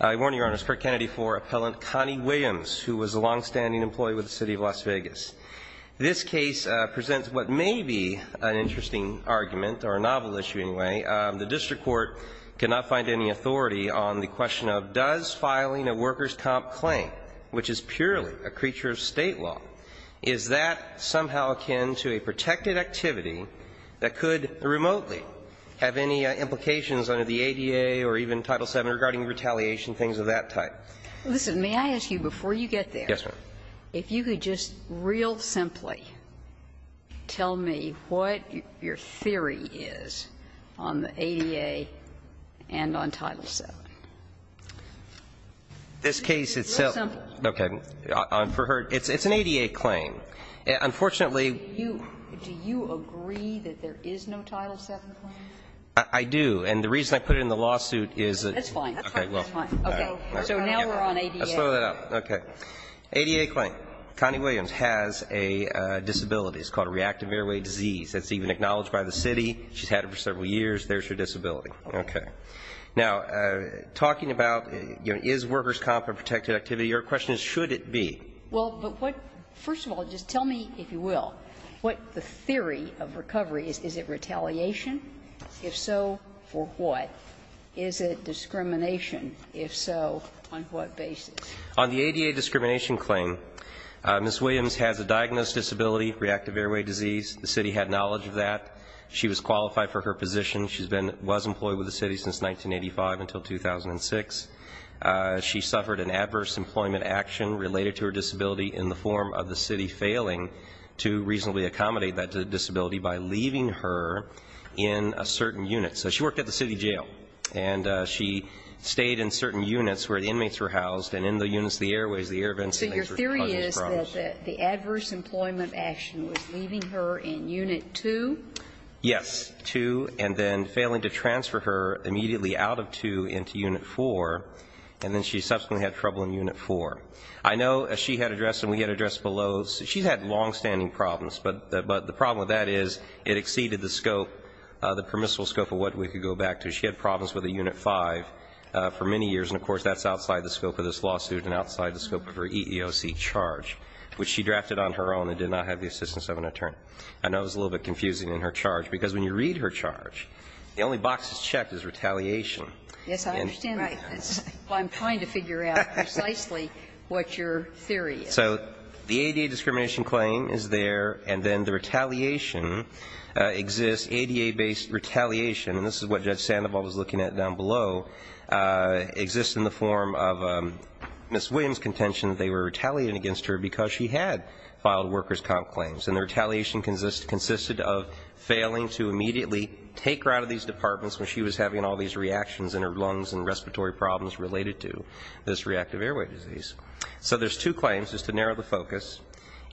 I warn you, Your Honor, it's Kirk Kennedy v. Appellant Connie Williams, who was a longstanding employee with the City of Las Vegas. This case presents what may be an interesting argument, or a novel issue anyway. The district court could not find any authority on the question of does filing a workers' comp claim, which is purely a creature of State law, is that somehow akin to a protected activity that could remotely have any implications under the ADA or even Title VII regarding retaliation, things of that type. Listen, may I ask you before you get there, if you could just real simply tell me what your theory is on the ADA and on Title VII. This case itself, okay, for her, it's an ADA claim. Unfortunately, Do you agree that there is no Title VII claim? I do, and the reason I put it in the lawsuit is that That's fine, that's fine. Okay, so now we're on ADA. I'll slow that up. Okay. ADA claim. Connie Williams has a disability. It's called a reactive airway disease. It's even acknowledged by the City. She's had it for several years. There's her disability. Okay. Now, talking about is workers' comp a protected activity, your question is should it be? Well, but what, first of all, just tell me, if you will, what the theory of recovery is. Is it retaliation? If so, for what? Is it discrimination? If so, on what basis? On the ADA discrimination claim, Ms. Williams has a diagnosed disability, reactive airway disease. The City had knowledge of that. She was qualified for her position. She's been, was employed with the City since 1985 until 2006. She suffered an adverse employment action related to her disability in the form of the City failing to reasonably accommodate that disability by leaving her in a certain unit. So she worked at the City jail, and she stayed in certain units where the inmates were housed, and in the units, the airways, the air vents. So your theory is that the adverse employment action was leaving her in Unit 2? Yes, 2, and then failing to transfer her immediately out of 2 into Unit 4, and then she subsequently had trouble in Unit 4. I know, as she had addressed and we had addressed below, she's had longstanding problems, but the problem with that is it exceeded the scope, the permissible scope of what we could go back to. She had problems with a Unit 5 for many years, and, of course, that's outside the scope of this lawsuit and outside the scope of her EEOC charge, which she drafted on her own and did not have the assistance of an attorney. I know it was a little bit confusing in her charge, because when you read her charge, the only box that's checked is retaliation. Yes, I understand that. I'm trying to figure out precisely what your theory is. So the ADA discrimination claim is there, and then the retaliation exists, ADA-based retaliation, and this is what Judge Sandoval was looking at down below, exists in the form of Ms. Williams' contention that they were retaliating against her because she had filed workers' comp claims, and the retaliation consisted of failing to immediately take her out of these departments when she was having all these reactions in her lungs and respiratory problems related to this reactive airway disease. So there's two claims, just to narrow the focus,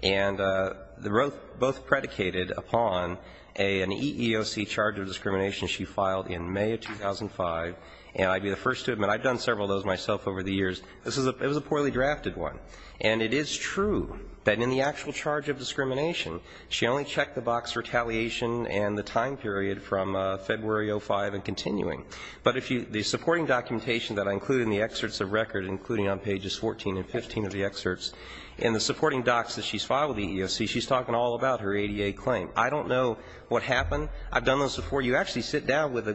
and both predicated upon an EEOC charge of discrimination she filed in May of 2005, and I'd be the first to admit I've done several of those myself over the years. This was a poorly drafted one. And it is true that in the actual charge of discrimination, she only checked the box retaliation and the time period from February of 2005 and continuing. But if you the supporting documentation that I include in the excerpts of record, including on pages 14 and 15 of the excerpts, and the supporting docs that she's filed with the EEOC, she's talking all about her ADA claim. I don't know what happened. I've done those before. You actually sit down with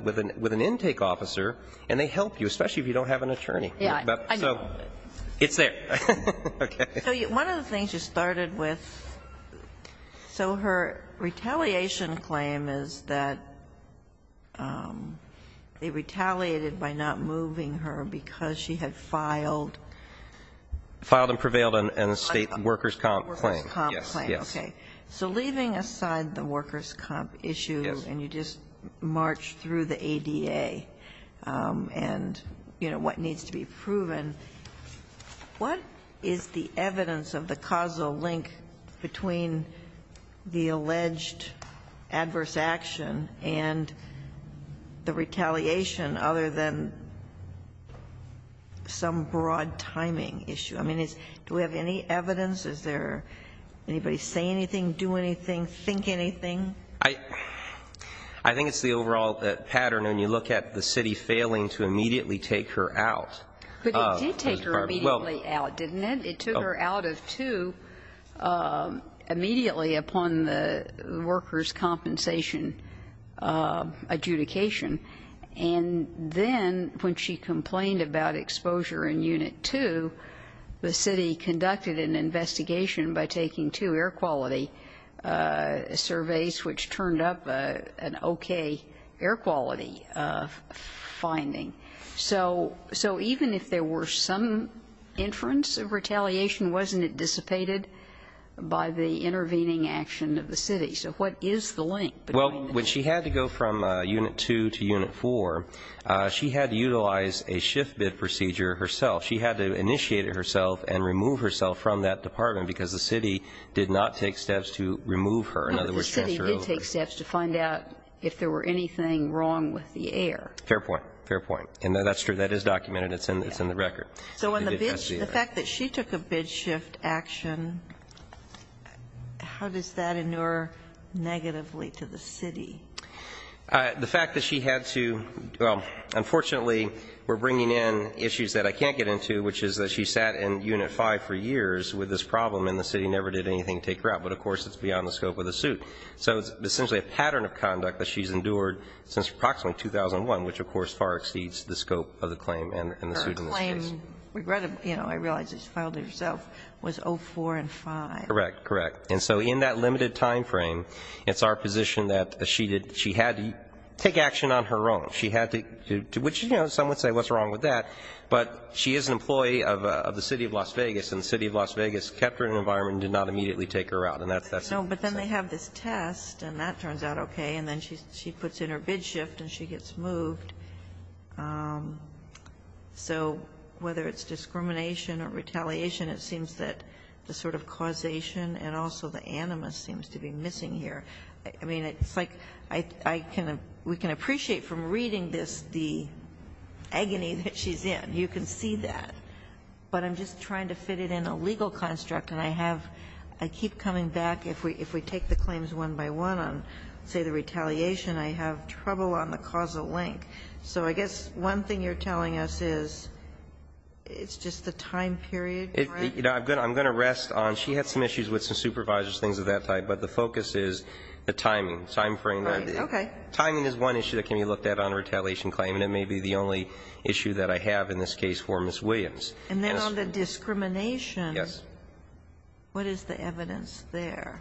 an intake officer and they help you, especially So it's there. Okay. One of the things you started with, so her retaliation claim is that they retaliated by not moving her because she had filed. Filed and prevailed on a state workers' comp claim. Workers' comp claim. Okay. So leaving aside the workers' comp issue and you just march through the ADA and what needs to be proven, what is the evidence of the causal link between the alleged adverse action and the retaliation other than some broad timing issue? I mean, do we have any evidence? Is there anybody say anything, do anything, think anything? I think it's the overall pattern when you look at the city failing to immediately take her out. But it did take her immediately out, didn't it? It took her out of two immediately upon the workers' compensation adjudication. And then when she complained about exposure in Unit 2, the city conducted an investigation by taking two air quality surveys, which turned up an okay air quality finding. So even if there were some inference of retaliation, wasn't it dissipated by the intervening action of the city? So what is the link? Well, when she had to go from Unit 2 to Unit 4, she had to utilize a shift bid procedure herself. She had to initiate it herself and remove herself from that department because the city did not take steps to remove her. In other words, transfer her over. But the city did take steps to find out if there were anything wrong with the air. Fair point. Fair point. And that's true. That is documented. It's in the record. So when the fact that she took a bid shift action, how does that inure negatively to the city? The fact that she had to, well, unfortunately, we're bringing in issues that I can't get into, which is that she sat in Unit 5 for years with this problem and the city never did anything to take her out. But, of course, it's beyond the scope of the suit. So it's essentially a pattern of conduct that she's endured since approximately 2001, which, of course, far exceeds the scope of the claim and the suit in this case. Her claim, regrettably, you know, I realize it's filed herself, was 04 and 5. Correct. Correct. And so in that limited time frame, it's our position that she had to take action on her own. She had to, which, you know, some would say, what's wrong with that? But she is an employee of the City of Las Vegas and the City of Las Vegas kept her in an environment and did not immediately take her out. And that's that's. No, but then they have this test and that turns out okay. And then she puts in her bid shift and she gets moved. So whether it's discrimination or retaliation, it seems that the sort of causation and also the animus seems to be missing here. I mean, it's like I can we can appreciate from reading this the agony that she's in. You can see that. But I'm just trying to fit it in a legal construct and I have I keep coming back if we if we take the claims one by one on, say, the retaliation, I have trouble on the causal link. So I guess one thing you're telling us is it's just the time period, correct? I'm going to rest on she had some issues with some supervisors, things of that type. But the focus is the timing, time frame. Timing is one issue that can be looked at on a retaliation claim. And it may be the only issue that I have in this case for Ms. Williams. And then on the discrimination, what is the evidence there?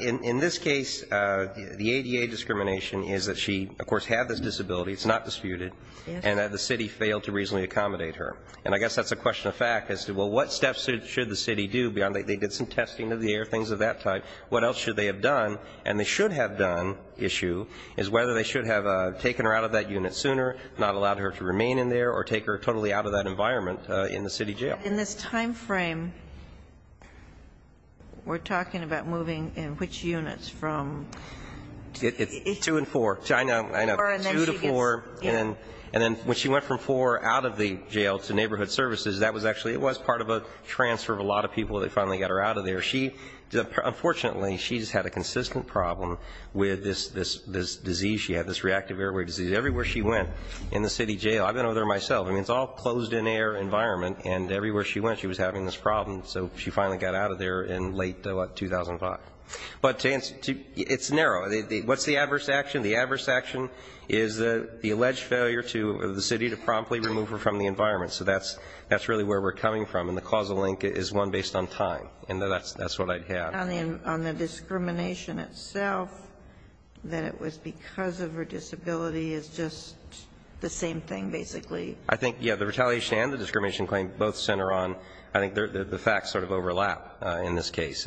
In this case, the ADA discrimination is that she, of course, had this disability. It's not disputed. And the city failed to reasonably accommodate her. And I guess that's a question of fact. I said, well, what steps should the city do beyond that? They did some testing of the air, things of that type. What else should they have done? And they should have done issue is whether they should have taken her out of that unit sooner, not allowed her to remain in there or take her totally out of that environment in the city jail. In this time frame, we're talking about moving in which units from two and four. I know, two to four. And then when she went from four out of the jail to neighborhood services, that was actually, it was part of a transfer of a lot of people. They finally got her out of there. She, unfortunately, she's had a consistent problem with this disease. She had this reactive airway disease everywhere she went in the city jail. I've been over there myself. I mean, it's all closed in air environment. And everywhere she went, she was having this problem. So she finally got out of there in late 2005. But it's narrow. What's the adverse action? The adverse action is the alleged failure to, of the city to promptly remove her from the environment. So that's really where we're coming from. And the causal link is one based on time. And that's what I'd have. On the discrimination itself, that it was because of her disability is just the same thing, basically. I think, yeah, the retaliation and the discrimination claim both center on, I think the facts sort of overlap in this case.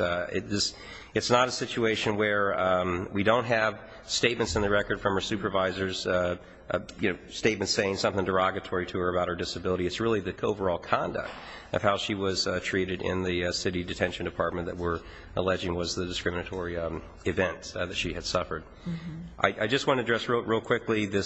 It's not a situation where we don't have statements in the record from her supervisors, statements saying something derogatory to her about her disability. It's really the overall conduct of how she was treated in the city detention department that we're alleging was the discriminatory event that she had suffered. I just want to address, real quickly, the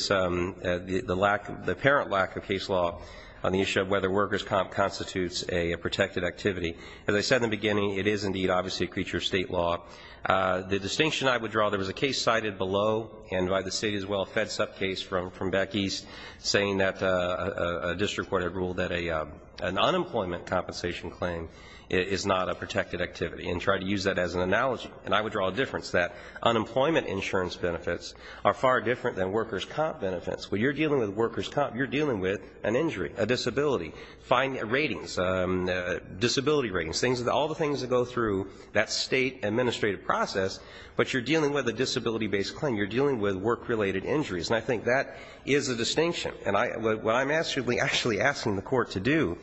apparent lack of case law on the issue of whether workers' comp constitutes a protected activity. As I said in the beginning, it is indeed, obviously, a creature of state law. The distinction I would draw, there was a case cited below and by the city as well, a FedSup case from back east saying that a district court had ruled that an unemployment compensation claim is not a protected activity and tried to use that as an analogy. And I would draw a difference that unemployment insurance benefits are far different than workers' comp benefits. When you're dealing with workers' comp, you're dealing with an injury, a disability. Find ratings, disability ratings, all the things that go through that state administrative process, but you're dealing with a disability-based claim. You're dealing with work-related injuries. And I think that is a distinction. And what I'm actually asking the Court to do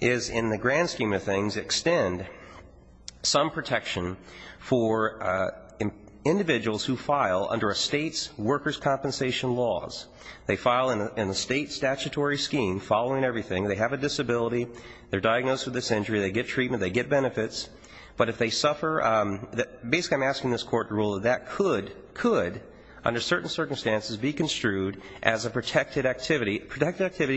is, in the grand scheme of things, extend some protection for individuals who file under a state's workers' compensation laws. They file in a state statutory scheme, following everything. They have a disability. They're diagnosed with this injury. They get treatment. They get benefits. But if they suffer, basically, I'm asking this Court to rule that that could, under certain circumstances, be construed as a protected activity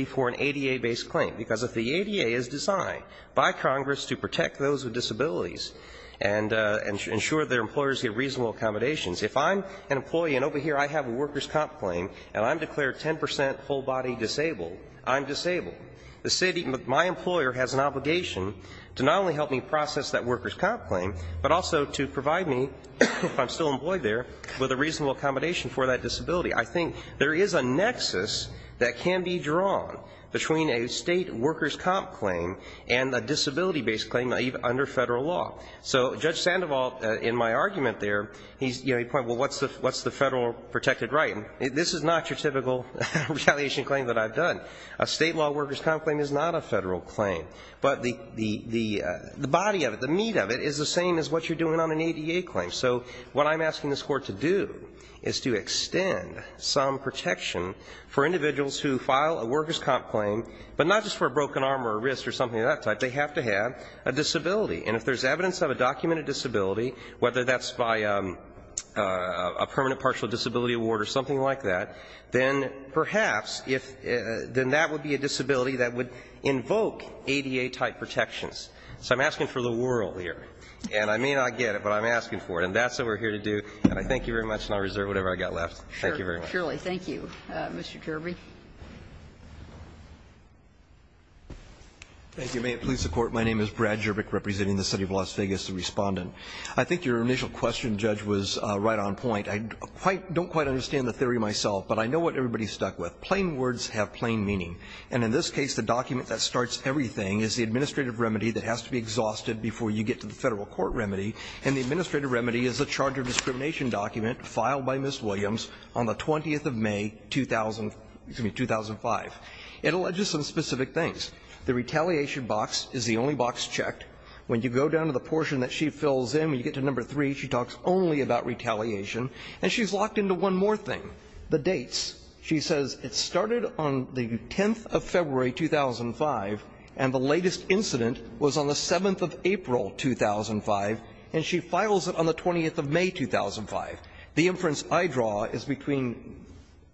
for an ADA-based claim. Because if the ADA is designed by Congress to protect those with disabilities and ensure their employers get reasonable accommodations, if I'm an employee and over here I have a workers' comp claim and I'm declared 10 percent full-body disabled, I'm disabled. The state, my employer, has an obligation to not only help me process that workers' comp claim, but also to provide me, if I'm still employed there, with a reasonable accommodation for that disability. I think there is a nexus that can be drawn between a state workers' comp claim and a disability-based claim under federal law. So Judge Sandoval, in my argument there, he's, you know, he pointed, well, what's the federal protected right? And this is not your typical retaliation claim that I've done. A state-law workers' comp claim is not a federal claim. But the body of it, the meat of it, is the same as what you're doing on an ADA claim. So what I'm asking this Court to do is to extend some protection for individuals who file a workers' comp claim, but not just for a broken arm or a wrist or something of that type. They have to have a disability. And if there's evidence of a documented disability, whether that's by a permanent partial disability award or something like that, then perhaps if that would be a disability that would invoke ADA-type protections. So I'm asking for the world here. And I may not get it, but I'm asking for it. And that's what we're here to do. And I thank you very much, and I reserve whatever I've got left. Thank you very much. Sotomayor. Thank you, Mr. Jerby. Thank you. May it please the Court. My name is Brad Jerby, representing the City of Las Vegas, the Respondent. I think your initial question, Judge, was right on point. I don't quite understand the theory myself, but I know what everybody's stuck with. Plain words have plain meaning. And in this case, the document that starts everything is the administrative remedy that has to be exhausted before you get to the Federal Court remedy. And the administrative remedy is a charge of discrimination document filed by Ms. Williams on the 20th of May, excuse me, 2005. It alleges some specific things. The retaliation box is the only box checked. When you go down to the portion that she fills in, when you get to number three, she talks only about retaliation. And she's locked into one more thing, the dates. She says it started on the 10th of February, 2005, and the latest incident was on the 7th of April, 2005, and she files it on the 20th of May, 2005. The inference I draw is between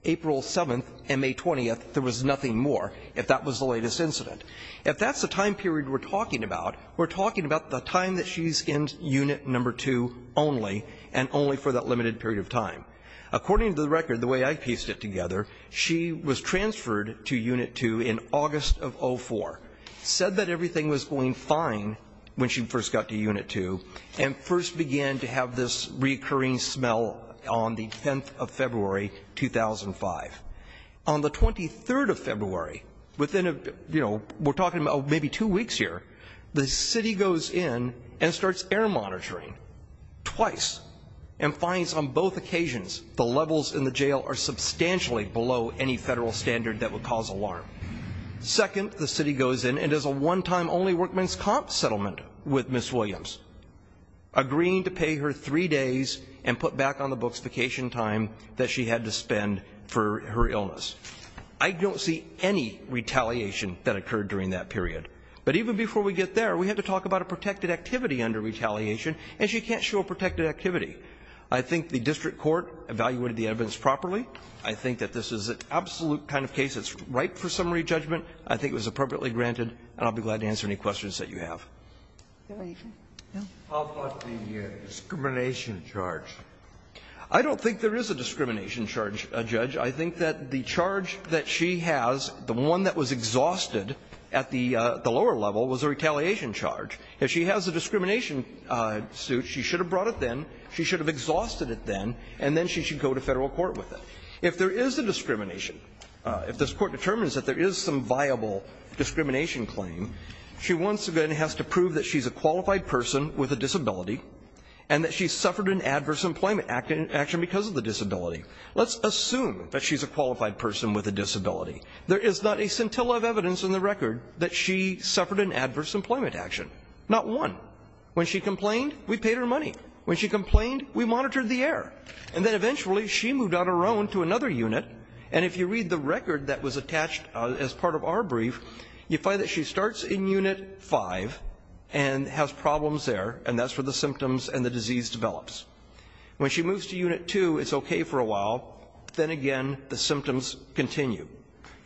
April 7th and May 20th, there was nothing more, if that was the latest incident. If that's the time period we're talking about, we're talking about the time that she's in unit number two only, and only for that limited period of time. According to the record, the way I pieced it together, she was transferred to unit two in August of 04, said that everything was going fine when she first got to unit two, and first began to have this recurring smell on the 10th of February, 2005. On the 23rd of February, we're talking about maybe two weeks here, the city goes in and starts air monitoring, twice, and finds on both occasions the levels in the jail are substantially below any federal standard that would cause alarm. Second, the city goes in and does a one-time only workman's comp settlement with Ms. Williams, agreeing to pay her three days and put back on the books vacation time that she had to spend for her illness. I don't see any retaliation that occurred during that period. But even before we get there, we have to talk about a protected activity under retaliation, and she can't show a protected activity. I think the district court evaluated the evidence properly. I think that this is an absolute kind of case that's ripe for summary judgment. I think it was appropriately granted, and I'll be glad to answer any questions that you have. Sotomayor. How about the discrimination charge? I don't think there is a discrimination charge, Judge. I think that the charge that she has, the one that was exhausted at the lower level was a retaliation charge. If she has a discrimination suit, she should have brought it then, she should have exhausted it then, and then she should go to federal court with it. If there is a discrimination, if this Court determines that there is some viable discrimination claim, she once again has to prove that she's a qualified person with a disability, and that she suffered an adverse employment action because of the disability. Let's assume that she's a qualified person with a disability. There is not a scintilla of evidence in the record that she suffered an adverse employment action. Not one. When she complained, we paid her money. When she complained, we monitored the error. And then eventually, she moved on her own to another unit, and if you read the record that was attached as part of our brief, you find that she starts in unit 5 and has problems there, and that's where the symptoms and the disease develops. When she moves to unit 2, it's okay for a while. Then again, the symptoms continue.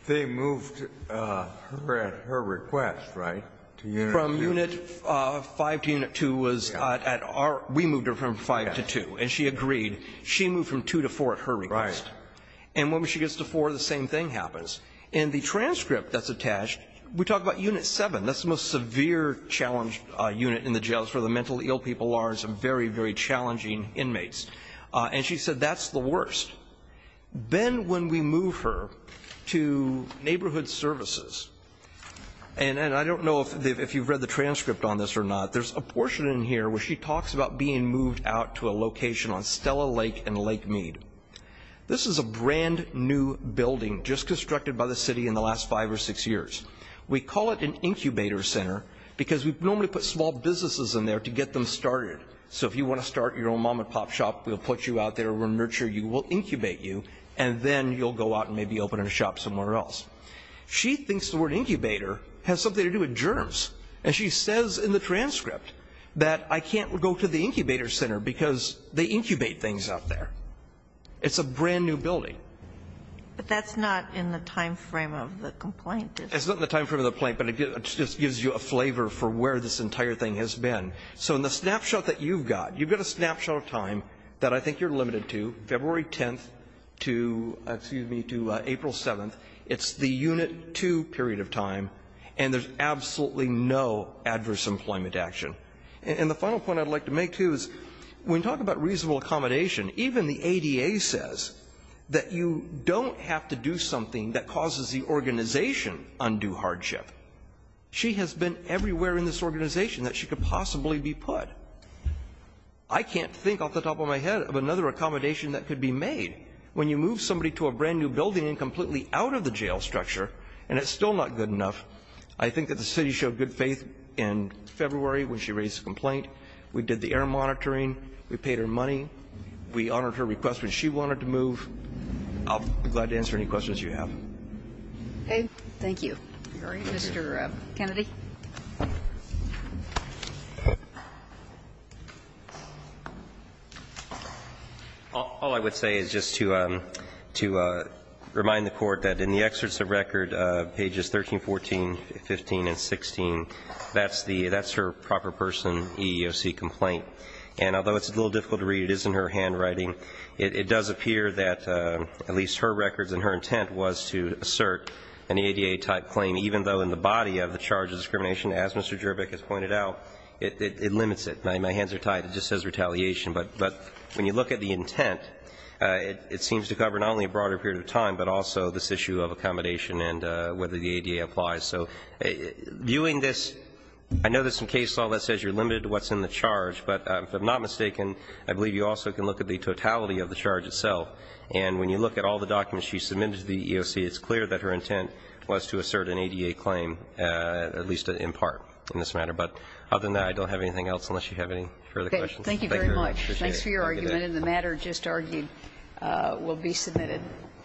Kennedy, they moved her request, right, to unit 2? From unit 5 to unit 2 was at our we moved her from 5 to 2, and she agreed. She moved from 2 to 4 at her request. Right. And when she gets to 4, the same thing happens. In the transcript that's attached, we talk about unit 7. That's the most severe challenge unit in the jails for the mentally ill people are and some very, very challenging inmates. And she said that's the worst. Then when we move her to neighborhood services, and I don't know if you've read the transcript on this or not, there's a portion in here where she talks about being moved out to a location on Stella Lake and Lake Mead. This is a brand new building just constructed by the city in the last five or six years. We call it an incubator center because we normally put small businesses in there to get them started. So if you want to start your own mom and pop shop, we'll put you out there, we'll nurture you, we'll incubate you, and then you'll go out and maybe open a shop somewhere else. She thinks the word incubator has something to do with germs. And she says in the transcript that I can't go to the incubator center because they incubate things out there. It's a brand new building. But that's not in the time frame of the complaint, is it? It's not in the time frame of the complaint, but it just gives you a flavor for where this entire thing has been. So in the snapshot that you've got, you've got a snapshot of time that I think you're limited to, February 10th to, excuse me, to April 7th. It's the Unit 2 period of time, and there's absolutely no adverse employment action. And the final point I'd like to make, too, is when we talk about reasonable accommodation, even the ADA says that you don't have to do something that causes the organization undue hardship. She has been everywhere in this organization that she could possibly be put. I can't think off the top of my head of another accommodation that could be made when you move somebody to a brand new building and completely out of the jail structure, and it's still not good enough. I think that the city showed good faith in February when she raised the complaint. We did the air monitoring. We paid her money. We honored her request when she wanted to move. I'll be glad to answer any questions you have. Okay, thank you. All right, Mr. Kennedy. All I would say is just to remind the court that in the excerpts of record, pages 13, 14, 15, and 16, that's her proper person EEOC complaint. And although it's a little difficult to read, it is in her handwriting. It does appear that at least her records and her intent was to assert an ADA type claim, even though in the body of the charge of discrimination, as Mr. Jerbik has pointed out, it limits it. My hands are tied, it just says retaliation. But when you look at the intent, it seems to cover not only a broader period of time, but also this issue of accommodation and whether the ADA applies. So viewing this, I know there's some case law that says you're limited to what's in the charge. But if I'm not mistaken, I believe you also can look at the totality of the charge itself. And when you look at all the documents she submitted to the EEOC, it's clear that her intent was to assert an ADA claim, at least in part in this matter. But other than that, I don't have anything else, unless you have any further questions. Thank you very much. The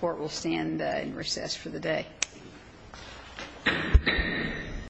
court will stand in recess for the day.